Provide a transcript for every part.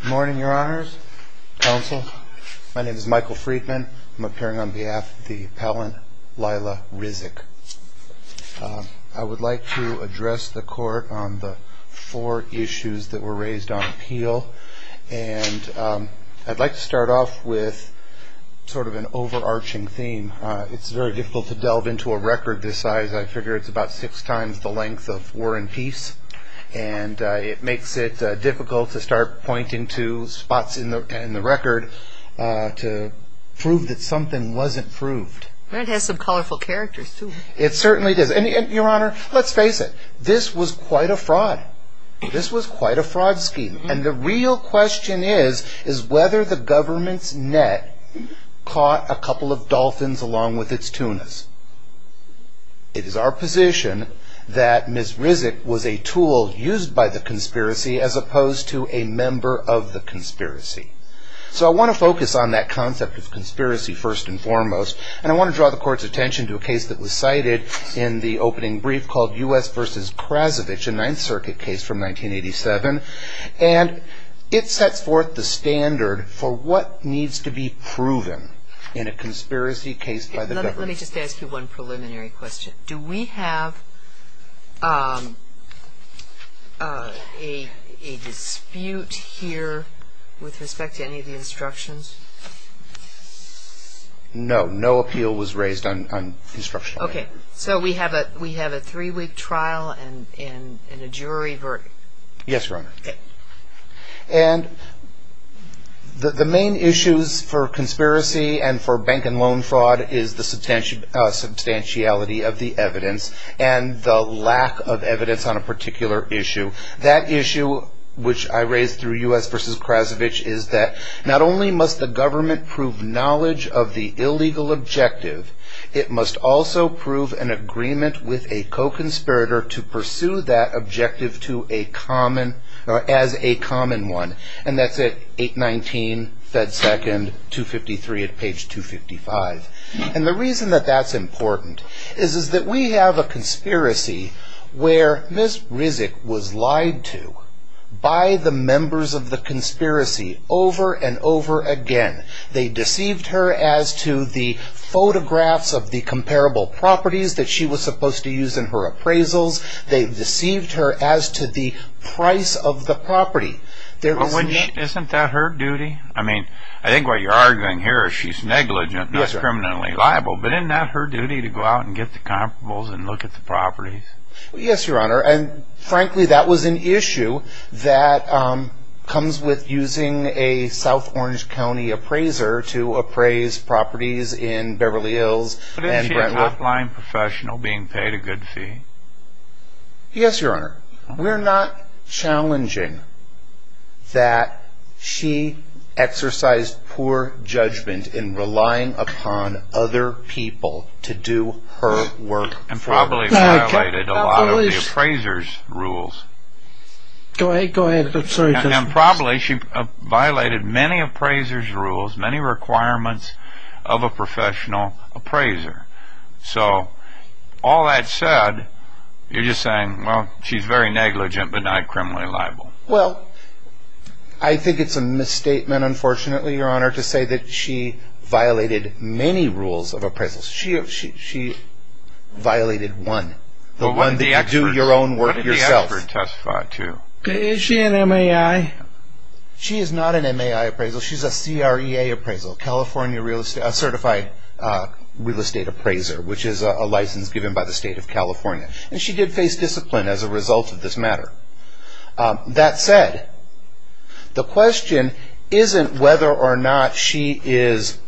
Good morning, your honors, counsel. My name is Michael Friedman. I'm appearing on behalf of the appellant Lila Rizk. I would like to address the court on the four issues that were raised on appeal. And I'd like to start off with sort of an overarching theme. It's very difficult to delve into a record this size. I figure it's about six times the length of War and Peace. And it makes it difficult to start pointing to spots in the record to prove that something wasn't proved. It has some colorful characters, too. It certainly does. And your honor, let's face it. This was quite a fraud. This was quite a fraud scheme. And the real question is, is whether the government's net caught a couple of dolphins along with its tunas. It is our position that Ms. Rizk was a tool used by the conspiracy as opposed to a member of the conspiracy. So I want to focus on that concept of conspiracy first and foremost. And I want to draw the court's attention to a case that was cited in the opening brief called U.S. v. Krasovich, a Ninth Circuit case from 1987. And it sets forth the standard for what needs to be proven in a conspiracy case by the government. Let me just ask you one preliminary question. Do we have a dispute here with respect to any of the instructions? No. No appeal was raised on instruction. Okay. So we have a three-week trial and a jury verdict. Yes, your honor. And the main issues for conspiracy and for bank and loan fraud is the substantiality of the evidence and the lack of evidence on a particular issue. That issue, which I raised through U.S. v. Krasovich, is that not only must the government prove knowledge of the illegal objective, it must also prove an agreement with a co-conspirator to pursue that objective as a common one. And that's at 819 Fed Second, 253 at page 255. And the reason that that's important is that we have a conspiracy where Ms. Rizk was lied to by the members of the conspiracy over and over again. They deceived her as to the photographs of the comparable properties that she was supposed to use in her appraisals. They deceived her as to the price of the property. Isn't that her duty? I mean, I think what you're arguing here is she's negligent, not criminally liable. But isn't that her duty to go out and get the comparables and look at the properties? Yes, Your Honor. And frankly, that was an issue that comes with using a South Orange County appraiser to appraise properties in Beverly Hills. But isn't a top-line professional being paid a good fee? Yes, Your Honor. We're not challenging that she exercised poor judgment in relying upon other people to do her work. And probably violated a lot of the appraiser's rules. Go ahead. I'm sorry. And probably she violated many appraiser's rules, many requirements of a professional appraiser. So all that said, you're just saying, well, she's very negligent but not criminally liable. Well, I think it's a misstatement, unfortunately, Your Honor, to say that she violated many rules of appraisals. She violated one, the one that you do your own work yourself. What did the expert testify to? Is she an MAI? She is not an MAI appraisal. She's a CREA appraisal, California Certified Real Estate Appraiser, which is a license given by the state of California. And she did face discipline as a result of this matter. That said, the question isn't whether or not she is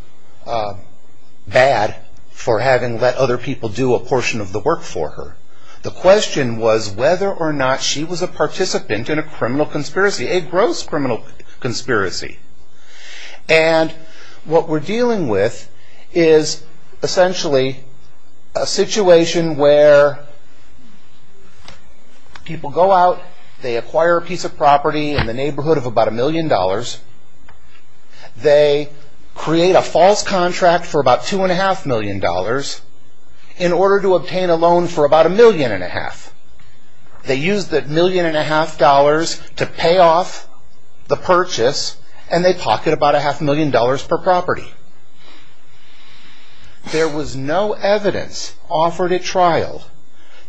bad for having let other people do a portion of the work for her. The question was whether or not she was a participant in a criminal conspiracy, a gross criminal conspiracy. And what we're dealing with is essentially a situation where people go out, they acquire a piece of property in the neighborhood of about a million dollars. They create a false contract for about two and a half million dollars in order to obtain a loan for about a million and a half. They use that million and a half dollars to pay off the purchase, and they pocket about a half million dollars per property. There was no evidence offered at trial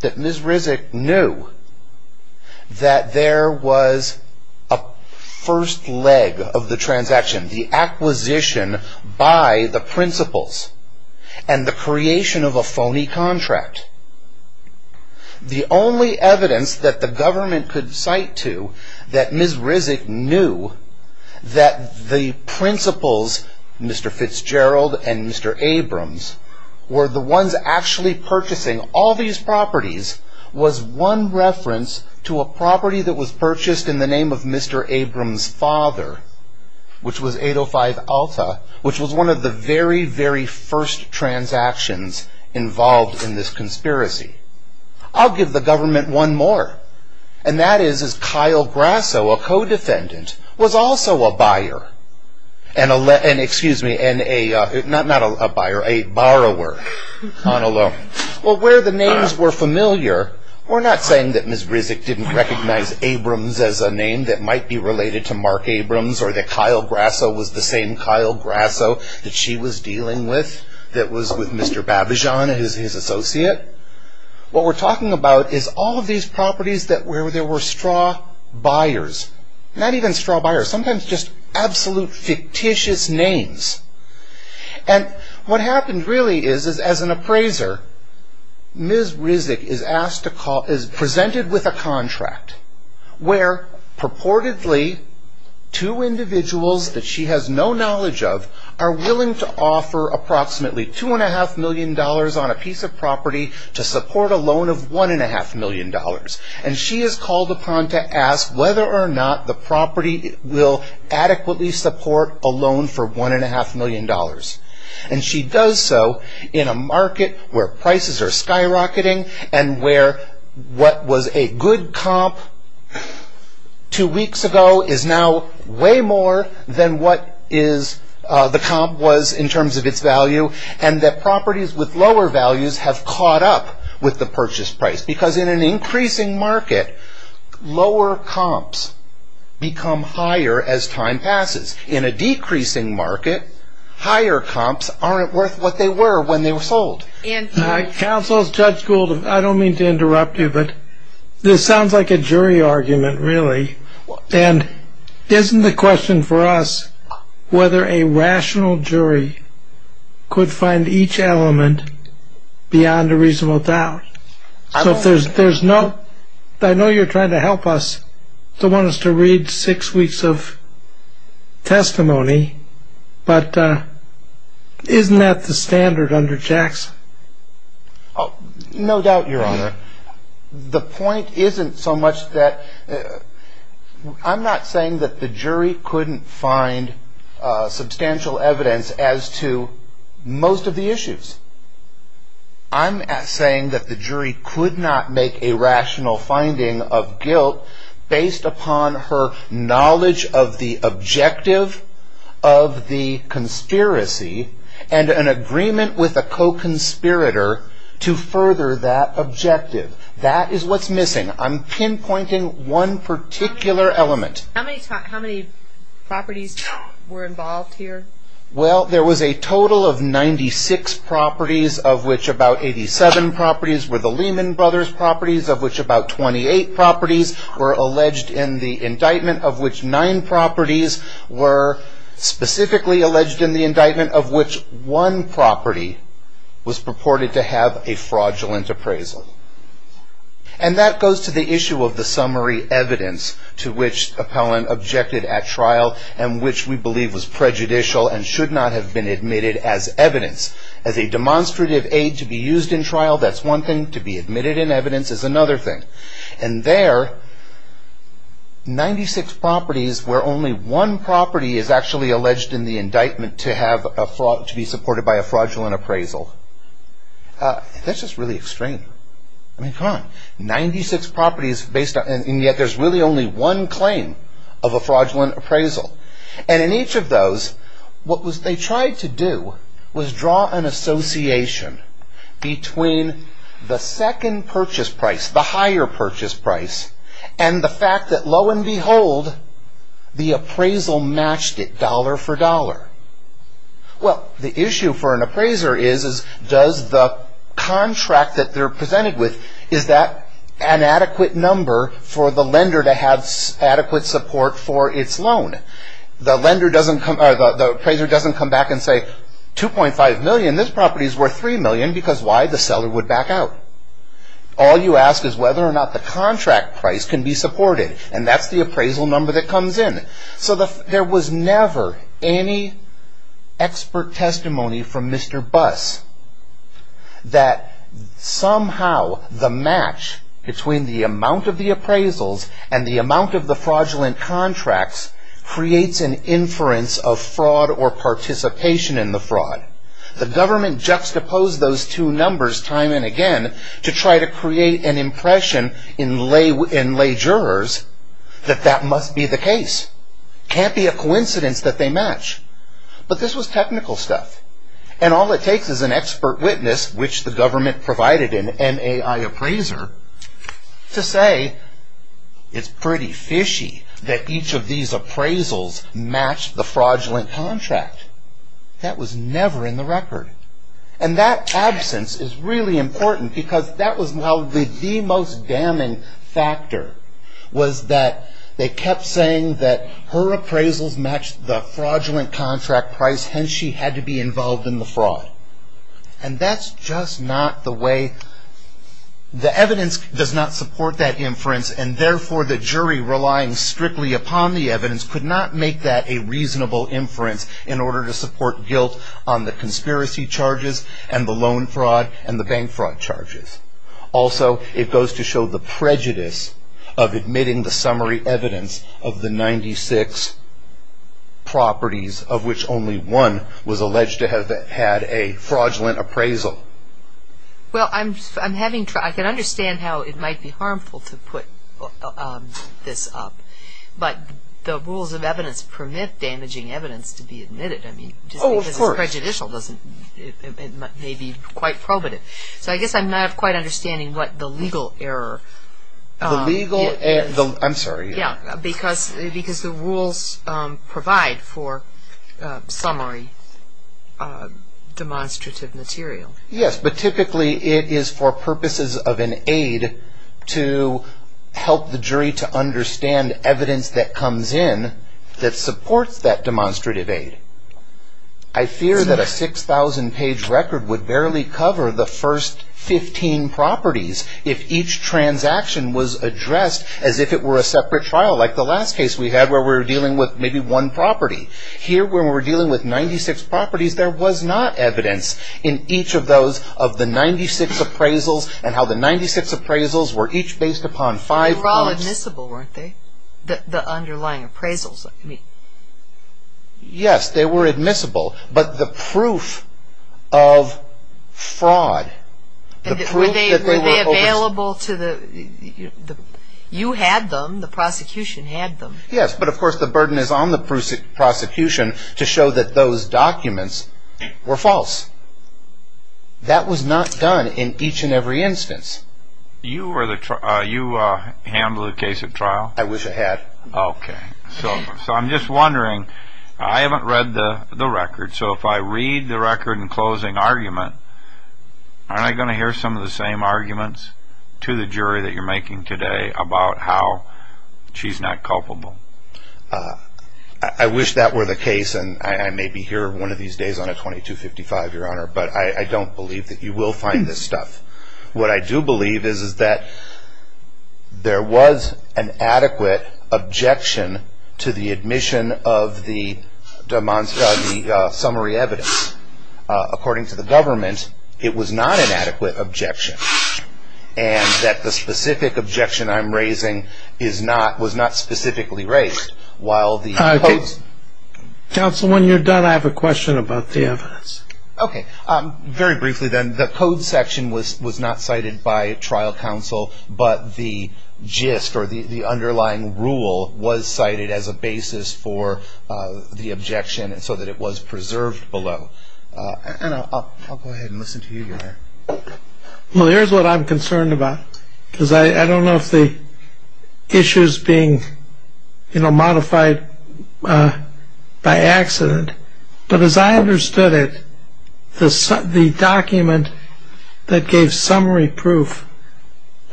that Ms. Rizek knew that there was a first leg of the transaction, the acquisition by the principals, and the creation of a phony contract. The only evidence that the government could cite to that Ms. Rizek knew that the principals, Mr. Fitzgerald and Mr. Abrams, were the ones actually purchasing all these properties, was one reference to a property that was purchased in the name of Mr. Abrams' father, which was 805 Alta, which was one of the very, very first transactions involved in this conspiracy. I'll give the government one more, and that is that Kyle Grasso, a co-defendant, was also a buyer. And excuse me, not a buyer, a borrower on a loan. Well, where the names were familiar, we're not saying that Ms. Rizek didn't recognize Abrams as a name that might be related to Mark Abrams, or that Kyle Grasso was the same Kyle Grasso that she was dealing with, that was with Mr. Babijan, his associate. What we're talking about is all of these properties where there were straw buyers, not even straw buyers, sometimes just absolute fictitious names. And what happened really is, as an appraiser, Ms. Rizek is presented with a contract where purportedly two individuals that she has no knowledge of are willing to offer approximately $2.5 million on a piece of property to support a loan of $1.5 million. And she is called upon to ask whether or not the property will adequately support a loan for $1.5 million. And she does so in a market where prices are skyrocketing and where what was a good comp two weeks ago is now way more than what the comp was in terms of its value, and that properties with lower values have caught up with the purchase price. Because in an increasing market, lower comps become higher as time passes. In a decreasing market, higher comps aren't worth what they were when they were sold. Counsel, Judge Gould, I don't mean to interrupt you, but this sounds like a jury argument, really. And isn't the question for us whether a rational jury could find each element beyond a reasonable doubt? So if there's no – I know you're trying to help us, to want us to read six weeks of testimony, but isn't that the standard under Jackson? No doubt, Your Honor. The point isn't so much that – I'm not saying that the jury couldn't find substantial evidence as to most of the issues. I'm saying that the jury could not make a rational finding of guilt based upon her knowledge of the objective of the conspiracy and an agreement with a co-conspirator to further that objective. That is what's missing. I'm pinpointing one particular element. How many properties were involved here? Well, there was a total of 96 properties, of which about 87 properties were the Lehman Brothers properties, of which about 28 properties were alleged in the indictment, of which 9 properties were specifically alleged in the indictment, of which one property was purported to have a fraudulent appraisal. And that goes to the issue of the summary evidence to which the appellant objected at trial and which we believe was prejudicial and should not have been admitted as evidence. As a demonstrative aid to be used in trial, that's one thing. To be admitted in evidence is another thing. And there, 96 properties where only one property is actually alleged in the indictment to be supported by a fraudulent appraisal. That's just really extreme. I mean, come on. 96 properties, and yet there's really only one claim of a fraudulent appraisal. And in each of those, what they tried to do was draw an association between the second purchase price, the higher purchase price, and the fact that, lo and behold, the appraisal matched it dollar for dollar. Well, the issue for an appraiser is, does the contract that they're presented with, is that an adequate number for the lender to have adequate support for its loan? The appraiser doesn't come back and say, 2.5 million, this property's worth 3 million, because why? The seller would back out. All you ask is whether or not the contract price can be supported, and that's the appraisal number that comes in. So there was never any expert testimony from Mr. Buss that somehow the match between the amount of the appraisals and the amount of the fraudulent contracts creates an inference of fraud or participation in the fraud. The government juxtaposed those two numbers time and again to try to create an impression in lay jurors that that must be the case. It can't be a coincidence that they match, but this was technical stuff. And all it takes is an expert witness, which the government provided an NAI appraiser, to say it's pretty fishy that each of these appraisals matched the fraudulent contract. That was never in the record. And that absence is really important because that was the most damning factor, was that they kept saying that her appraisals matched the fraudulent contract price, hence she had to be involved in the fraud. And that's just not the way, the evidence does not support that inference, and therefore the jury relying strictly upon the evidence could not make that a reasonable inference in order to support guilt on the conspiracy charges and the loan fraud and the bank fraud charges. Also, it goes to show the prejudice of admitting the summary evidence of the 96 properties of which only one was alleged to have had a fraudulent appraisal. Well, I'm having trouble, I can understand how it might be harmful to put this up, but the rules of evidence permit damaging evidence to be admitted. I mean, just because it's prejudicial doesn't, it may be quite probative. So I guess I'm not quite understanding what the legal error is. The legal error, I'm sorry. Yeah, because the rules provide for summary demonstrative material. Yes, but typically it is for purposes of an aid to help the jury to understand evidence that comes in that supports that demonstrative aid. I fear that a 6,000-page record would barely cover the first 15 properties if each transaction was addressed as if it were a separate trial, like the last case we had where we were dealing with maybe one property. Here, when we were dealing with 96 properties, there was not evidence in each of those of the 96 appraisals and how the 96 appraisals were each based upon five points. They were all admissible, weren't they, the underlying appraisals? Yes, they were admissible, but the proof of fraud. Were they available to the, you had them, the prosecution had them. Yes, but of course the burden is on the prosecution to show that those documents were false. That was not done in each and every instance. You handle the case at trial? I wish I had. Okay, so I'm just wondering, I haven't read the record, so if I read the record in closing argument, aren't I going to hear some of the same arguments to the jury that you're making today about how she's not culpable? I wish that were the case, and I may be here one of these days on a 2255, Your Honor, but I don't believe that you will find this stuff. What I do believe is that there was an adequate objection to the admission of the summary evidence. According to the government, it was not an adequate objection, and that the specific objection I'm raising was not specifically raised. Counsel, when you're done, I have a question about the evidence. Okay. Very briefly then, the code section was not cited by trial counsel, but the gist or the underlying rule was cited as a basis for the objection so that it was preserved below. And I'll go ahead and listen to you, Your Honor. Well, here's what I'm concerned about, because I don't know if the issue is being modified by accident, but as I understood it, the document that gave summary proof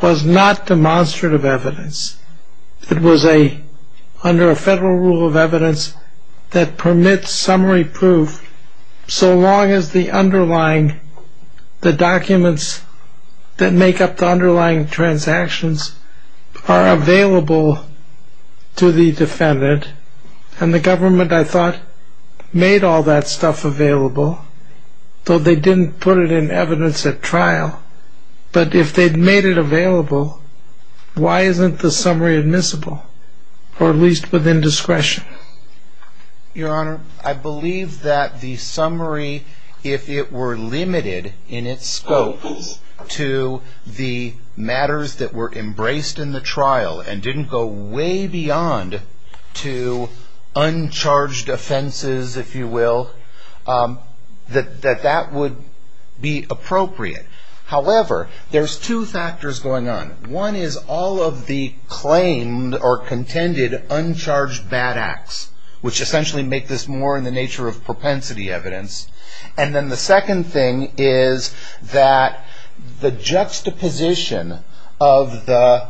was not demonstrative evidence. It was under a federal rule of evidence that permits summary proof so long as the documents that make up the underlying transactions are available to the defendant. And the government, I thought, made all that stuff available, though they didn't put it in evidence at trial. But if they'd made it available, why isn't the summary admissible, or at least within discretion? Your Honor, I believe that the summary, if it were limited in its scope to the matters that were embraced in the trial and didn't go way beyond to uncharged offenses, if you will, that that would be appropriate. However, there's two factors going on. One is all of the claimed or contended uncharged bad acts, which essentially make this more in the nature of propensity evidence. And then the second thing is that the juxtaposition of the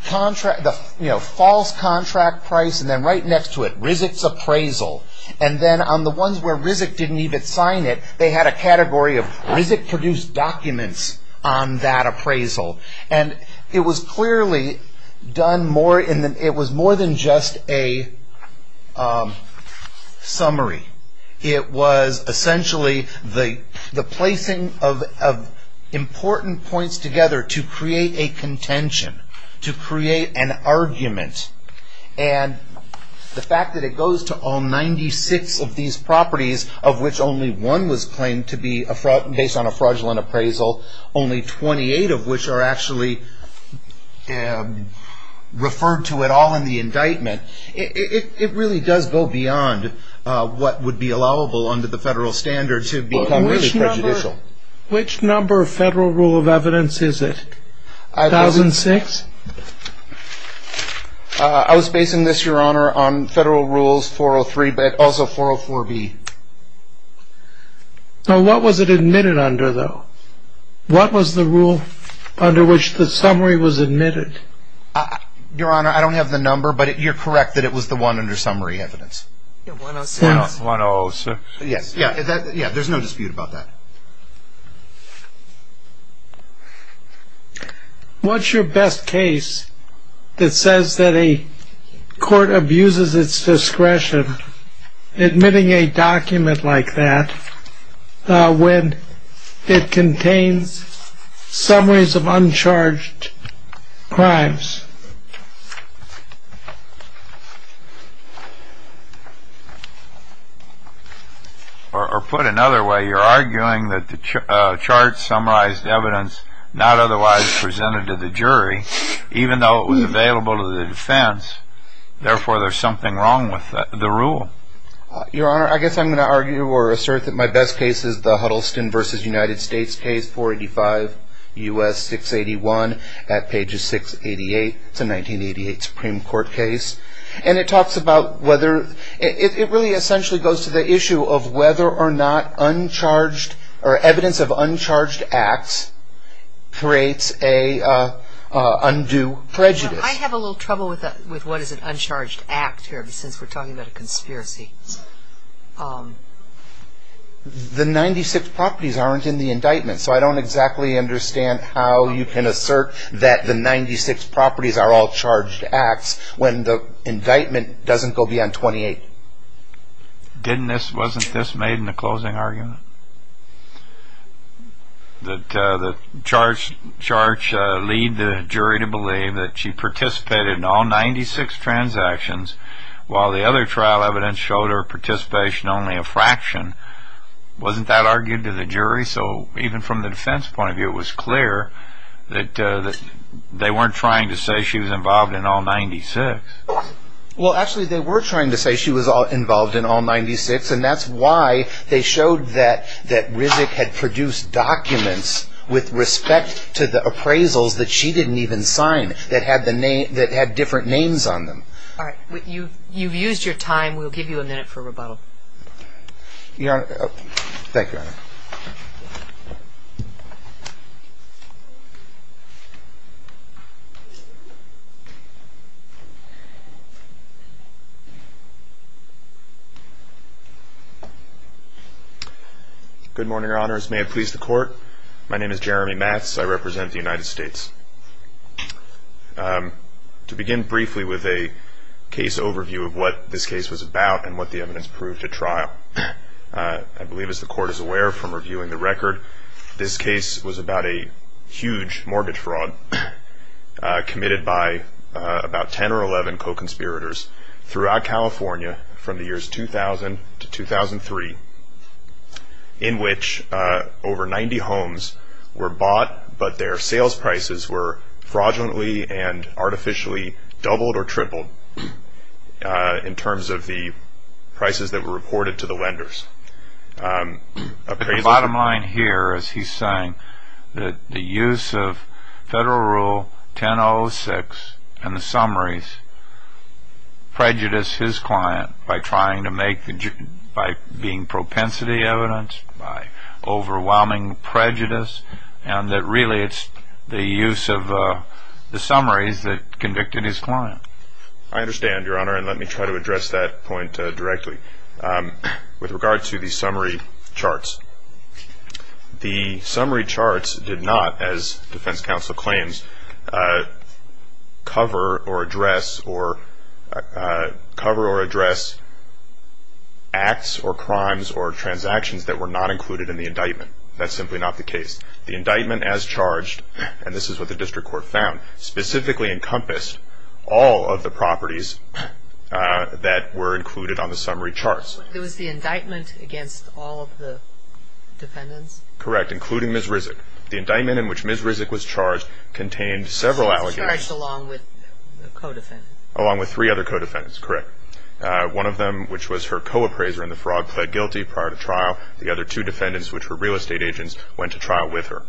false contract price, and then right next to it, RISC's appraisal, and then on the ones where RISC didn't even sign it, they had a category of RISC-produced documents on that appraisal. And it was clearly done more in that it was more than just a summary. It was essentially the placing of important points together to create a contention, to create an argument. And the fact that it goes to all 96 of these properties, of which only one was claimed to be based on a fraudulent appraisal, only 28 of which are actually referred to at all in the indictment, it really does go beyond what would be allowable under the federal standards to become really prejudicial. Which number of federal rule of evidence is it, 1006? I was basing this, Your Honor, on federal rules 403, but also 404B. What was it admitted under, though? What was the rule under which the summary was admitted? Your Honor, I don't have the number, but you're correct that it was the one under summary evidence. 106? Yes. There's no dispute about that. What's your best case that says that a court abuses its discretion admitting a document like that when it contains summaries of uncharged crimes? Or put another way, you're arguing that the chart summarized evidence not otherwise presented to the jury, even though it was available to the defense, therefore there's something wrong with the rule. Your Honor, I guess I'm going to argue or assert that my best case is the Huddleston v. United States case, 485 U.S. 681 at pages 688. It's a 1988 Supreme Court case. And it talks about whether it really essentially goes to the issue of whether or not uncharged or evidence of uncharged acts creates an undue prejudice. Your Honor, I have a little trouble with what is an uncharged act here since we're talking about a conspiracy. The 96 properties aren't in the indictment, so I don't exactly understand how you can assert that the 96 properties are all charged acts when the indictment doesn't go beyond 28. Wasn't this made in the closing argument? That the charge lead the jury to believe that she participated in all 96 transactions while the other trial evidence showed her participation only a fraction. Wasn't that argued to the jury? So even from the defense point of view, it was clear that they weren't trying to say she was involved in all 96. Well, actually, they were trying to say she was involved in all 96, and that's why they showed that Rizek had produced documents with respect to the appraisals that she didn't even sign that had different names on them. All right. You've used your time. We'll give you a minute for rebuttal. Thank you, Your Honor. Good morning, Your Honors. May it please the Court. My name is Jeremy Matz. I represent the United States. To begin briefly with a case overview of what this case was about and what the evidence proved at trial, I believe, as the Court is aware from reviewing the record, this case was about a huge mortgage fraud committed by about 10 or 11 co-conspirators throughout California from the years 2000 to 2003 in which over 90 homes were bought, but their sales prices were fraudulently and artificially doubled or tripled in terms of the prices that were reported to the lenders. The bottom line here is he's saying that the use of Federal Rule 1006 and the summaries prejudice his client by being propensity evidence, by overwhelming prejudice, and that really it's the use of the summaries that convicted his client. I understand, Your Honor, and let me try to address that point directly. With regard to the summary charts, the summary charts did not, as Defense Counsel claims, cover or address acts or crimes or transactions that were not included in the indictment. That's simply not the case. The indictment as charged, and this is what the District Court found, specifically encompassed all of the properties that were included on the summary charts. It was the indictment against all of the defendants? Correct, including Ms. Rizek. The indictment in which Ms. Rizek was charged contained several allegations. She was charged along with the co-defendants. Along with three other co-defendants, correct. One of them, which was her co-appraiser in the fraud, pled guilty prior to trial. The other two defendants, which were real estate agents, went to trial with her.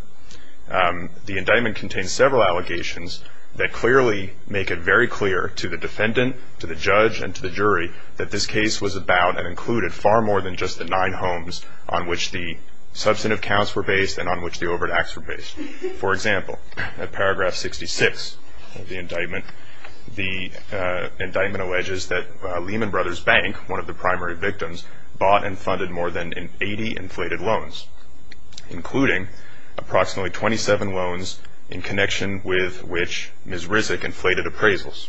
The indictment contains several allegations that clearly make it very clear to the defendant, to the judge, and to the jury that this case was about and included far more than just the nine homes on which the substantive counts were based and on which the overt acts were based. For example, at paragraph 66 of the indictment, the indictment alleges that Lehman Brothers Bank, one of the primary victims, bought and funded more than 80 inflated loans, including approximately 27 loans in connection with which Ms. Rizek inflated appraisals.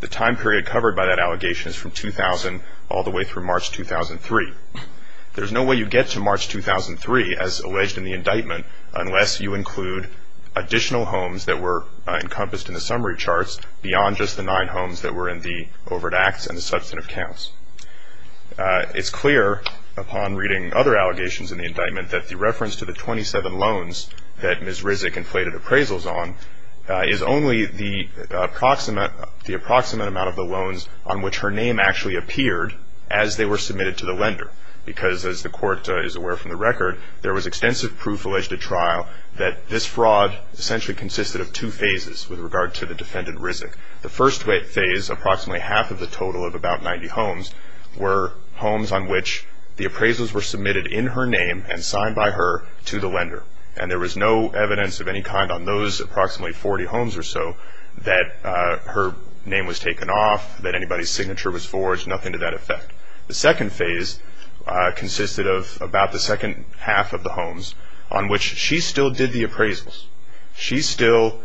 The time period covered by that allegation is from 2000 all the way through March 2003. There's no way you get to March 2003, as alleged in the indictment, unless you include additional homes that were encompassed in the summary charts beyond just the nine homes that were in the overt acts and the substantive counts. It's clear upon reading other allegations in the indictment that the reference to the 27 loans that Ms. Rizek inflated appraisals on is only the approximate amount of the loans on which her name actually appeared as they were submitted to the lender, because as the court is aware from the record, there was extensive proof alleged at trial that this fraud essentially consisted of two phases with regard to the defendant Rizek. The first phase, approximately half of the total of about 90 homes, were homes on which the appraisals were submitted in her name and signed by her to the lender, and there was no evidence of any kind on those approximately 40 homes or so that her name was taken off, that anybody's signature was forged, nothing to that effect. The second phase consisted of about the second half of the homes on which she still did the appraisals. She still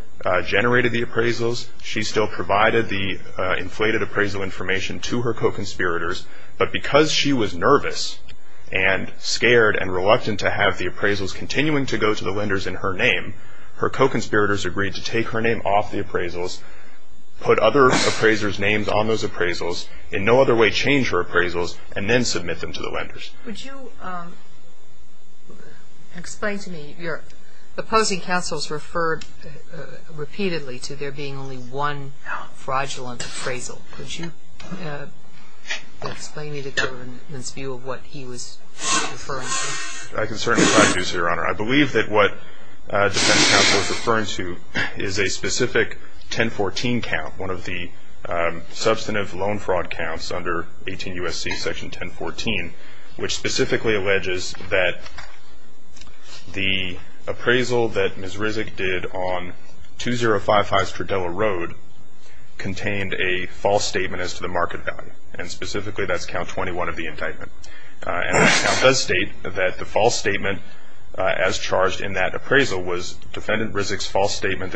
generated the appraisals. She still provided the inflated appraisal information to her co-conspirators, but because she was nervous and scared and reluctant to have the appraisals continuing to go to the lenders in her name, her co-conspirators agreed to take her name off the appraisals, put other appraisers' names on those appraisals, in no other way change her appraisals, and then submit them to the lenders. Would you explain to me, your opposing counsel has referred repeatedly to there being only one fraudulent appraisal. Could you explain to me the government's view of what he was referring to? I can certainly produce it, Your Honor. I believe that what the defense counsel is referring to is a specific 1014 count, one of the substantive loan fraud counts under 18 U.S.C. Section 1014, which specifically alleges that the appraisal that Ms. Rizek did on 2055 Stradella Road contained a false statement as to the market value, and specifically that's count 21 of the indictment. And the count does state that the false statement as charged in that appraisal was that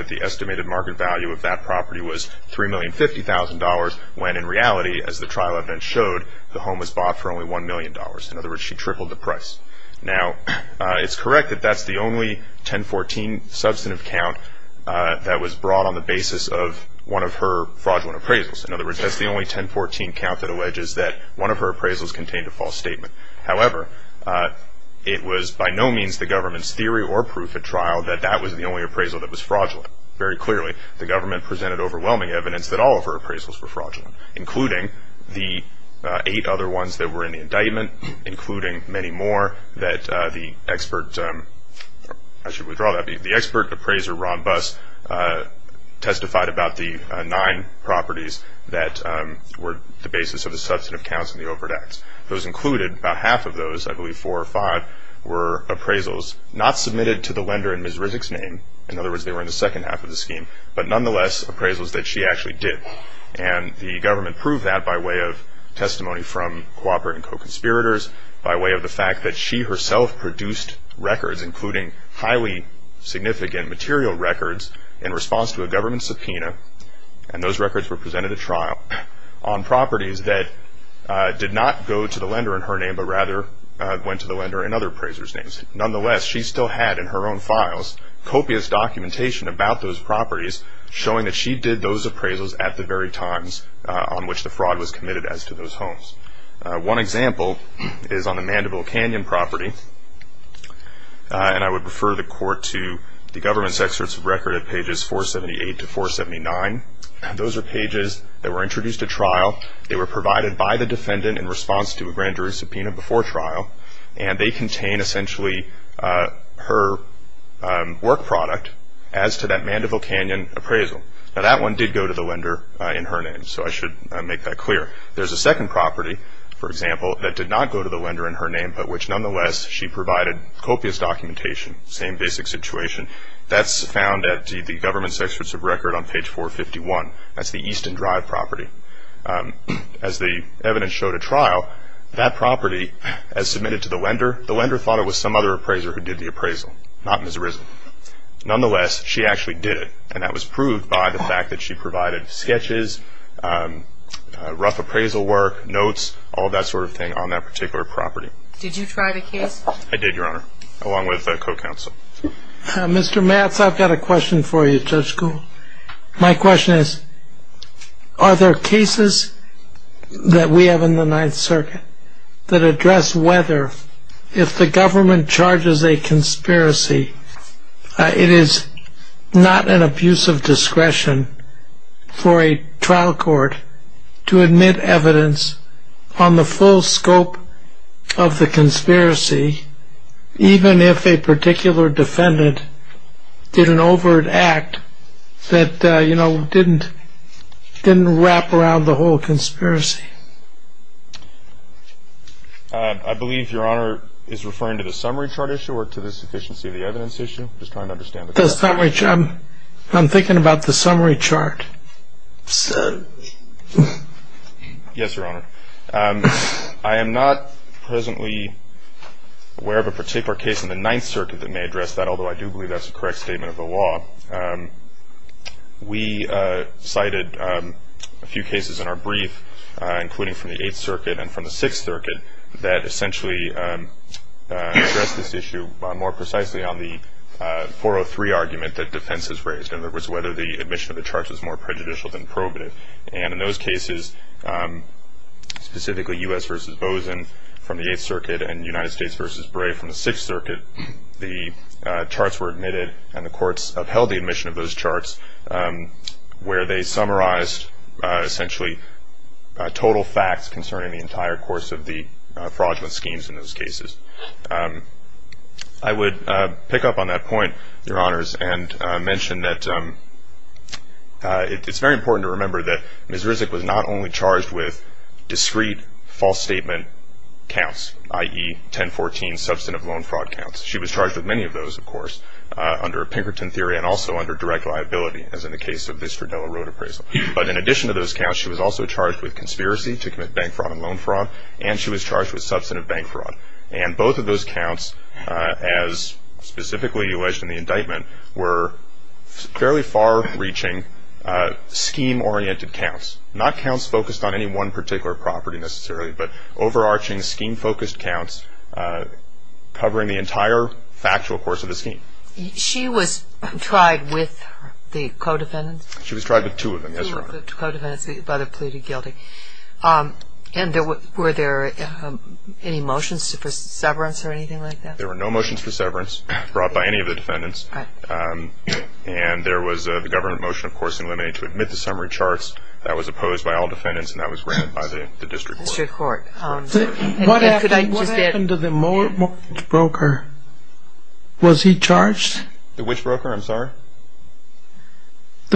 the estimated market value of that property was $3,050,000, when in reality, as the trial evidence showed, the home was bought for only $1 million. In other words, she tripled the price. Now, it's correct that that's the only 1014 substantive count that was brought on the basis of one of her fraudulent appraisals. In other words, that's the only 1014 count that alleges that one of her appraisals contained a false statement. However, it was by no means the government's theory or proof at trial that that was the only appraisal that was fraudulent. Very clearly, the government presented overwhelming evidence that all of her appraisals were fraudulent, including the eight other ones that were in the indictment, including many more that the expert appraiser, Ron Buss, testified about the nine properties that were the basis of the substantive counts in the overt acts. Those included, about half of those, I believe four or five, were appraisals not submitted to the lender in Ms. Rizek's name. In other words, they were in the second half of the scheme. But nonetheless, appraisals that she actually did. And the government proved that by way of testimony from cooperating co-conspirators, by way of the fact that she herself produced records, including highly significant material records in response to a government subpoena. And those records were presented at trial on properties that did not go to the lender in her name, but rather went to the lender in other appraisers' names. Nonetheless, she still had in her own files copious documentation about those properties, showing that she did those appraisals at the very times on which the fraud was committed as to those homes. One example is on the Mandible Canyon property. And I would refer the court to the government's excerpts of record at pages 478 to 479. Those are pages that were introduced at trial. They were provided by the defendant in response to a grand jury subpoena before trial. And they contain essentially her work product as to that Mandible Canyon appraisal. Now, that one did go to the lender in her name, so I should make that clear. There's a second property, for example, that did not go to the lender in her name, but which nonetheless she provided copious documentation, same basic situation. That's found at the government's excerpts of record on page 451. That's the Easton Drive property. As the evidence showed at trial, that property, as submitted to the lender, the lender thought it was some other appraiser who did the appraisal, not Ms. Rizzo. Nonetheless, she actually did it, and that was proved by the fact that she provided sketches, rough appraisal work, notes, all that sort of thing on that particular property. Did you try the case? I did, Your Honor, along with a co-counsel. Mr. Matz, I've got a question for you, Judge Kuhl. My question is, are there cases that we have in the Ninth Circuit that address whether, if the government charges a conspiracy, it is not an abuse of discretion for a trial court to admit evidence on the full scope of the conspiracy, even if a particular defendant did an overt act that, you know, didn't wrap around the whole conspiracy? I believe Your Honor is referring to the summary chart issue or to the sufficiency of the evidence issue. I'm just trying to understand the question. The summary chart. I'm thinking about the summary chart. Yes, Your Honor. I am not presently aware of a particular case in the Ninth Circuit that may address that, although I do believe that's a correct statement of the law. We cited a few cases in our brief, including from the Eighth Circuit and from the Sixth Circuit, that essentially address this issue more precisely on the 403 argument that defense has raised, in other words, whether the admission of the charge was more prejudicial than probative. And in those cases, specifically U.S. versus Bozeman from the Eighth Circuit and United States versus Bray from the Sixth Circuit, the charts were admitted and the courts upheld the admission of those charts, where they summarized essentially total facts concerning the entire course of the fraudulent schemes in those cases. I would pick up on that point, Your Honors, and mention that it's very important to remember that Ms. Rizek was not only charged with discreet, false statement counts, i.e., 1014 substantive loan fraud counts. She was charged with many of those, of course, under Pinkerton theory and also under direct liability as in the case of the Stradella Road appraisal. But in addition to those counts, she was also charged with conspiracy to commit bank fraud and loan fraud, and she was charged with substantive bank fraud. And both of those counts, as specifically alleged in the indictment, were fairly far-reaching scheme-oriented counts, not counts focused on any one particular property necessarily, but overarching scheme-focused counts covering the entire factual course of the scheme. She was tried with the co-defendants? She was tried with two of them, yes, Your Honor. Two of the co-defendants, the brother pleaded guilty. Okay. And were there any motions for severance or anything like that? There were no motions for severance brought by any of the defendants. And there was the government motion, of course, to admit the summary charts. That was opposed by all defendants, and that was granted by the district court. What happened to the mortgage broker? Was he charged? The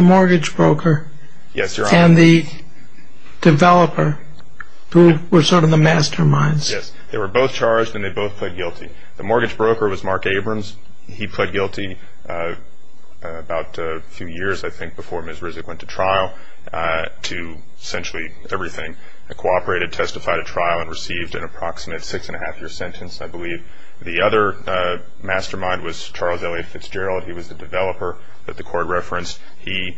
mortgage broker. Yes, Your Honor. And the developer, who were sort of the masterminds? Yes. They were both charged, and they both pled guilty. The mortgage broker was Mark Abrams. He pled guilty about a few years, I think, before Misrisic went to trial, to essentially everything, cooperated, testified at trial, and received an approximate six-and-a-half-year sentence, I believe. The other mastermind was Charles Elliot Fitzgerald. He was the developer that the court referenced. He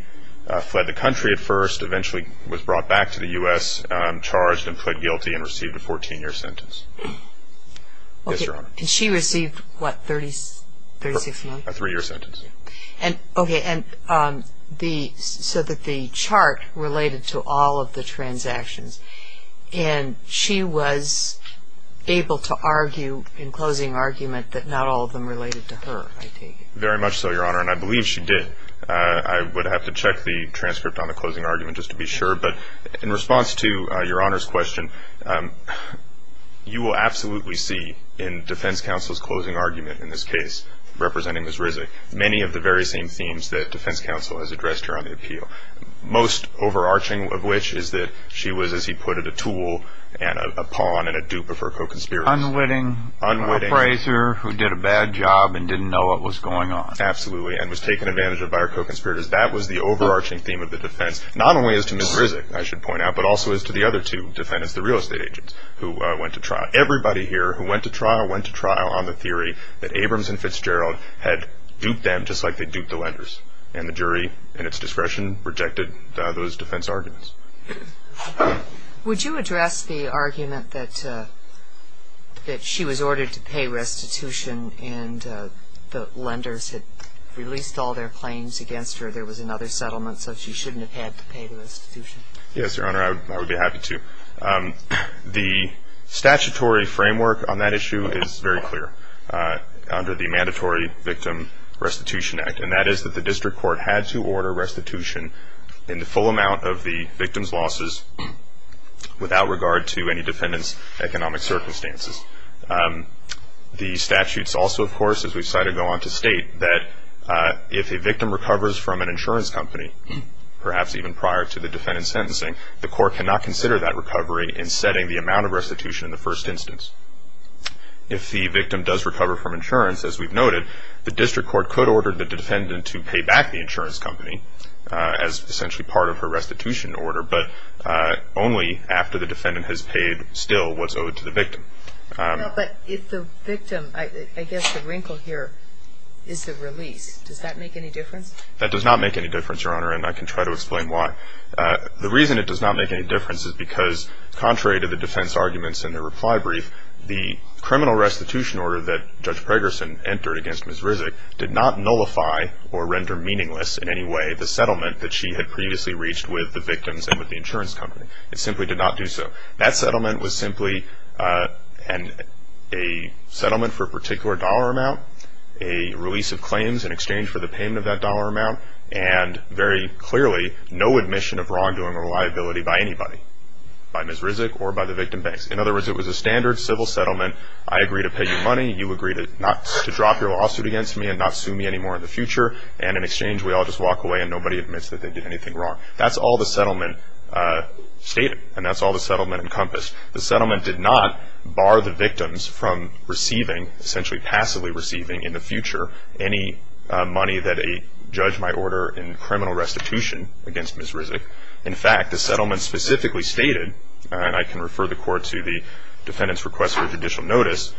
fled the country at first, eventually was brought back to the U.S., charged and pled guilty, and received a 14-year sentence. Yes, Your Honor. And she received what, 36 months? A three-year sentence. Okay. And so the chart related to all of the transactions, and she was able to argue in closing argument that not all of them related to her, I take it. Very much so, Your Honor, and I believe she did. I would have to check the transcript on the closing argument just to be sure, but in response to Your Honor's question, you will absolutely see in defense counsel's closing argument in this case, representing Misrisic, many of the very same themes that defense counsel has addressed her on the appeal, most overarching of which is that she was, as he put it, a tool and a pawn and a dupe of her co-conspirators. Unwitting appraiser who did a bad job and didn't know what was going on. Absolutely, and was taken advantage of by her co-conspirators. That was the overarching theme of the defense, not only as to Misrisic, I should point out, but also as to the other two defendants, the real estate agents who went to trial. Everybody here who went to trial went to trial on the theory that Abrams and Fitzgerald had duped them just like they duped the lenders, and the jury in its discretion rejected those defense arguments. Would you address the argument that she was ordered to pay restitution and the lenders had released all their claims against her, there was another settlement, so she shouldn't have had to pay the restitution? Yes, Your Honor, I would be happy to. The statutory framework on that issue is very clear under the Mandatory Victim Restitution Act, and that is that the district court had to order restitution in the full amount of the victim's losses without regard to any defendant's economic circumstances. The statutes also, of course, as we've cited, go on to state that if a victim recovers from an insurance company, perhaps even prior to the defendant's sentencing, the court cannot consider that recovery in setting the amount of restitution in the first instance. If the victim does recover from insurance, as we've noted, the district court could order the defendant to pay back the insurance company as essentially part of her restitution order, but only after the defendant has paid still what's owed to the victim. But if the victim, I guess the wrinkle here is the release, does that make any difference? That does not make any difference, Your Honor, and I can try to explain why. The reason it does not make any difference is because contrary to the defense arguments in the reply brief, the criminal restitution order that Judge Pregerson entered against Ms. Rizek did not nullify or render meaningless in any way the settlement that she had previously reached with the victims and with the insurance company. It simply did not do so. That settlement was simply a settlement for a particular dollar amount, a release of claims in exchange for the payment of that dollar amount, and very clearly no admission of wrongdoing or liability by anybody, by Ms. Rizek or by the victim banks. In other words, it was a standard civil settlement. I agree to pay you money. You agree not to drop your lawsuit against me and not sue me anymore in the future, and in exchange we all just walk away and nobody admits that they did anything wrong. That's all the settlement stated, and that's all the settlement encompassed. The settlement did not bar the victims from receiving, essentially passively receiving in the future, any money that a judge might order in criminal restitution against Ms. Rizek. In fact, the settlement specifically stated, and I can refer the court to the defendant's request for judicial notice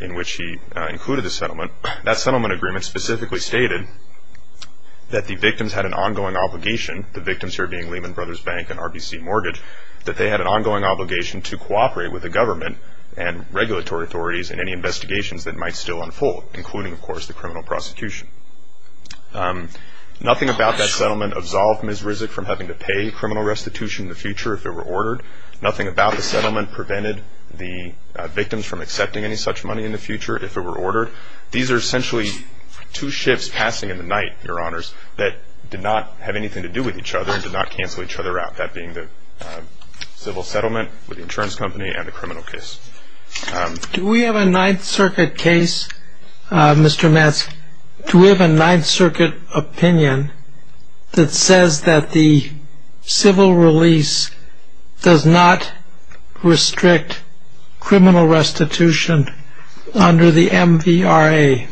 in which he included the settlement, that settlement agreement specifically stated that the victims had an ongoing obligation, the victims here being Lehman Brothers Bank and RBC Mortgage, that they had an ongoing obligation to cooperate with the government and regulatory authorities in any investigations that might still unfold, including, of course, the criminal prosecution. Nothing about that settlement absolved Ms. Rizek from having to pay criminal restitution in the future if it were ordered. Nothing about the settlement prevented the victims from accepting any such money in the future if it were ordered. These are essentially two shifts passing in the night, Your Honors, that did not have anything to do with each other and did not cancel each other out, that being the civil settlement with the insurance company and the criminal case. Do we have a Ninth Circuit case, Mr. Madsk, do we have a Ninth Circuit opinion that says that the civil release does not restrict criminal restitution under the MVRA?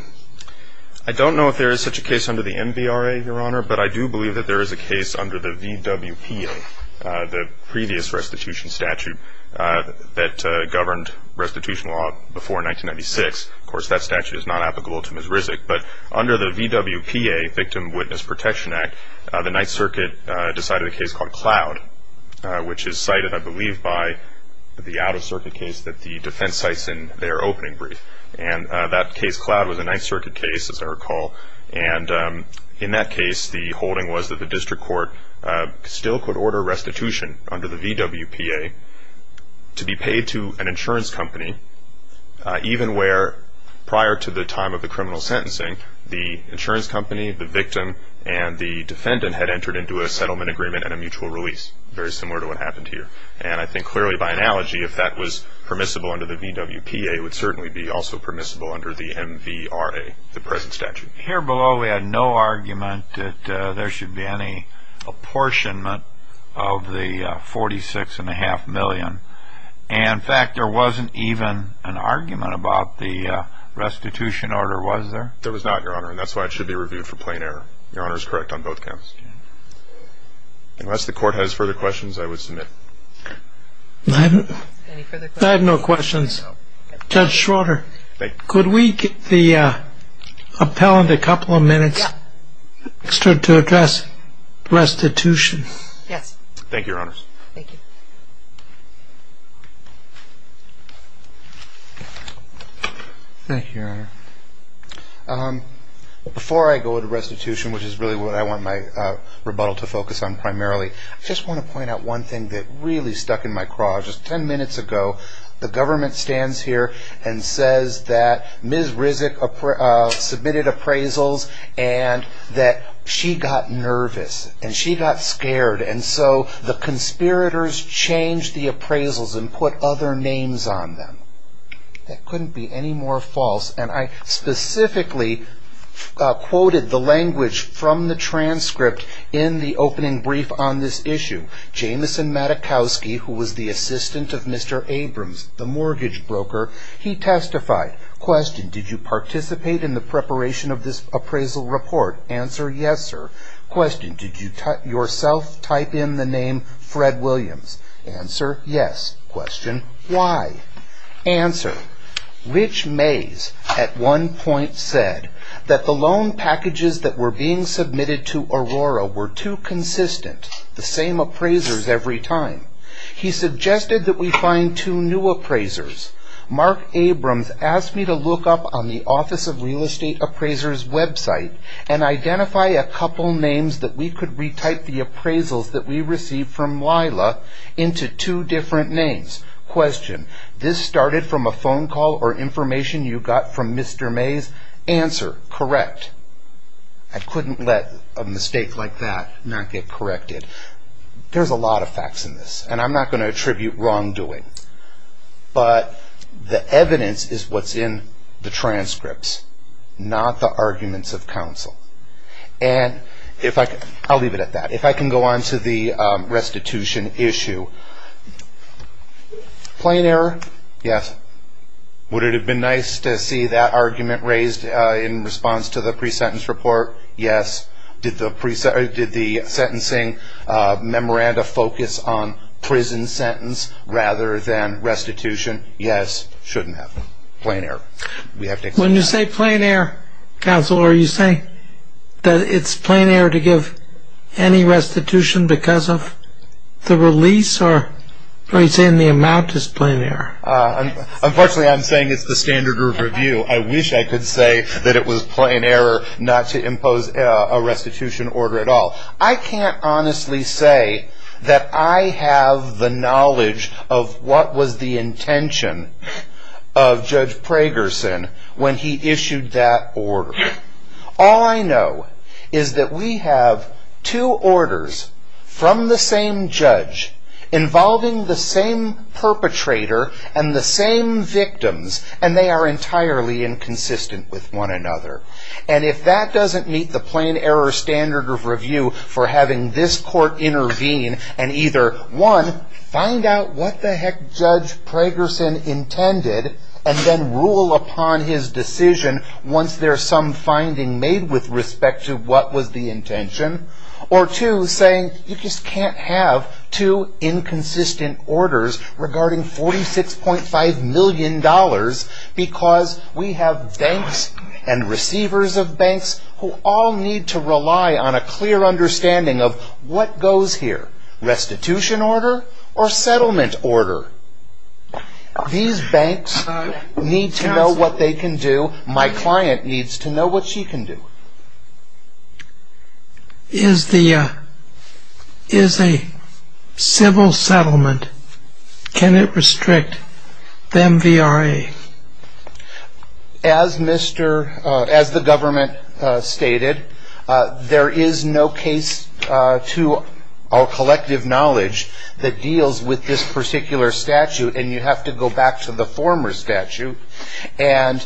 I don't know if there is such a case under the MVRA, Your Honor, but I do believe that there is a case under the VWPA, the previous restitution statute that governed restitution law before 1996. Of course, that statute is not applicable to Ms. Rizek. But under the VWPA, Victim Witness Protection Act, the Ninth Circuit decided a case called Cloud, which is cited, I believe, by the out-of-circuit case that the defense cites in their opening brief. And that case, Cloud, was a Ninth Circuit case, as I recall. And in that case, the holding was that the district court still could order restitution under the VWPA to be paid to an insurance company, even where prior to the time of the criminal sentencing, the insurance company, the victim, and the defendant had entered into a settlement agreement and a mutual release, very similar to what happened here. And I think clearly by analogy, if that was permissible under the VWPA, it would certainly be also permissible under the MVRA, the present statute. Here below, we had no argument that there should be any apportionment of the $46.5 million. And, in fact, there wasn't even an argument about the restitution order, was there? There was not, Your Honor, and that's why it should be reviewed for plain error. Your Honor is correct on both counts. Unless the court has further questions, I would submit. I have no questions. Judge Schroeder, could we get the appellant a couple of minutes extra to address restitution? Thank you, Your Honor. Thank you. Thank you, Your Honor. Before I go to restitution, which is really what I want my rebuttal to focus on primarily, I just want to point out one thing that really stuck in my craw. Just ten minutes ago, the government stands here and says that Ms. Rizek submitted appraisals and that she got nervous and she got scared. And so the conspirators changed the appraisals and put other names on them. That couldn't be any more false. And I specifically quoted the language from the transcript in the opening brief on this issue. Jameson Matakowski, who was the assistant of Mr. Abrams, the mortgage broker, he testified. Question, did you participate in the preparation of this appraisal report? Answer, yes, sir. Question, did you yourself type in the name Fred Williams? Answer, yes. Question, why? Answer, Rich Mays at one point said that the loan packages that were being submitted to Aurora were too consistent, the same appraisers every time. He suggested that we find two new appraisers. Mark Abrams asked me to look up on the Office of Real Estate Appraisers website and identify a couple names that we could retype the appraisals that we received from Lila into two different names. Question, this started from a phone call or information you got from Mr. Mays? Answer, correct. I couldn't let a mistake like that not get corrected. There's a lot of facts in this, and I'm not going to attribute wrongdoing. But the evidence is what's in the transcripts, not the arguments of counsel. I'll leave it at that. If I can go on to the restitution issue. Plain error, yes. Would it have been nice to see that argument raised in response to the pre-sentence report? Yes. Did the sentencing memoranda focus on prison sentence rather than restitution? Yes. Shouldn't have. Plain error. When you say plain error, counsel, are you saying that it's plain error to give any restitution because of the release, or are you saying the amount is plain error? Unfortunately, I'm saying it's the standard group review. I wish I could say that it was plain error not to impose a restitution order at all. I can't honestly say that I have the knowledge of what was the intention of Judge Pragerson when he issued that order. All I know is that we have two orders from the same judge involving the same perpetrator and the same victims, and they are entirely inconsistent with one another. And if that doesn't meet the plain error standard of review for having this court intervene and either, one, find out what the heck Judge Pragerson intended and then rule upon his decision once there's some finding made with respect to what was the intention, or two, saying you just can't have two inconsistent orders regarding $46.5 million because we have banks and receivers of banks who all need to rely on a clear understanding of what goes here, restitution order or settlement order. These banks need to know what they can do. My client needs to know what she can do. Is a civil settlement, can it restrict the MVRA? As the government stated, there is no case to our collective knowledge that deals with this particular statute, and you have to go back to the former statute. And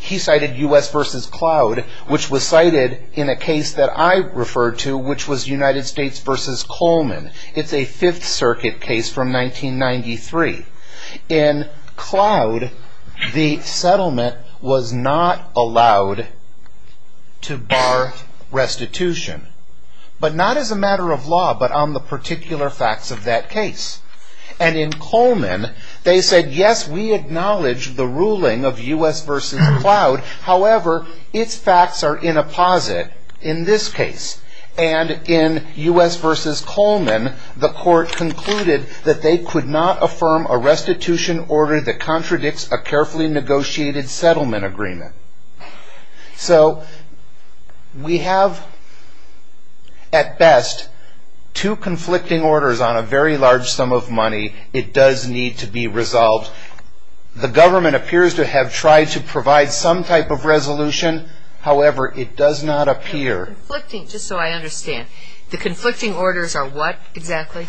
he cited U.S. v. Cloud, which was cited in a case that I referred to, which was United States v. Coleman. It's a Fifth Circuit case from 1993. In Cloud, the settlement was not allowed to bar restitution, but not as a matter of law, but on the particular facts of that case. And in Coleman, they said, yes, we acknowledge the ruling of U.S. v. Cloud. However, its facts are in a posit in this case. And in U.S. v. Coleman, the court concluded that they could not affirm a restitution order that contradicts a carefully negotiated settlement agreement. So we have, at best, two conflicting orders on a very large sum of money. It does need to be resolved. The government appears to have tried to provide some type of resolution. However, it does not appear. Just so I understand, the conflicting orders are what exactly?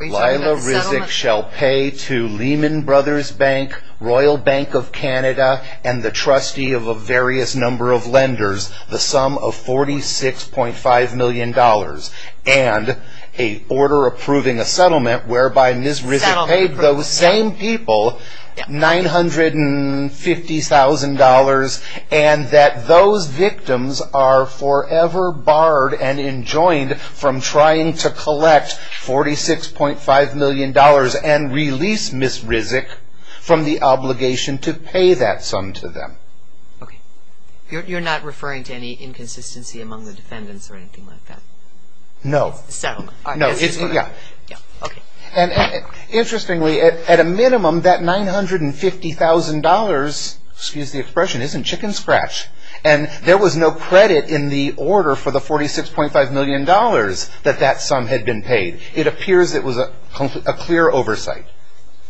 Lila Rizic shall pay to Lehman Brothers Bank, Royal Bank of Canada, and the trustee of a various number of lenders the sum of $46.5 million and a order approving a settlement whereby Ms. Rizic paid those same people $950,000 and that those victims are forever barred and enjoined from trying to collect $46.5 million and release Ms. Rizic from the obligation to pay that sum to them. Okay. You're not referring to any inconsistency among the defendants or anything like that? No. It's a settlement. Yeah. Okay. Interestingly, at a minimum, that $950,000, excuse the expression, isn't chicken scratch. And there was no credit in the order for the $46.5 million that that sum had been paid. It appears it was a clear oversight.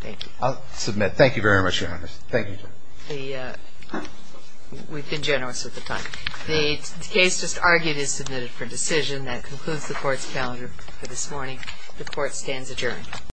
Thank you. I'll submit. Thank you very much, Your Honor. Thank you. We've been generous with the time. The case just argued is submitted for decision. That concludes the Court's calendar for this morning. The Court stands adjourned.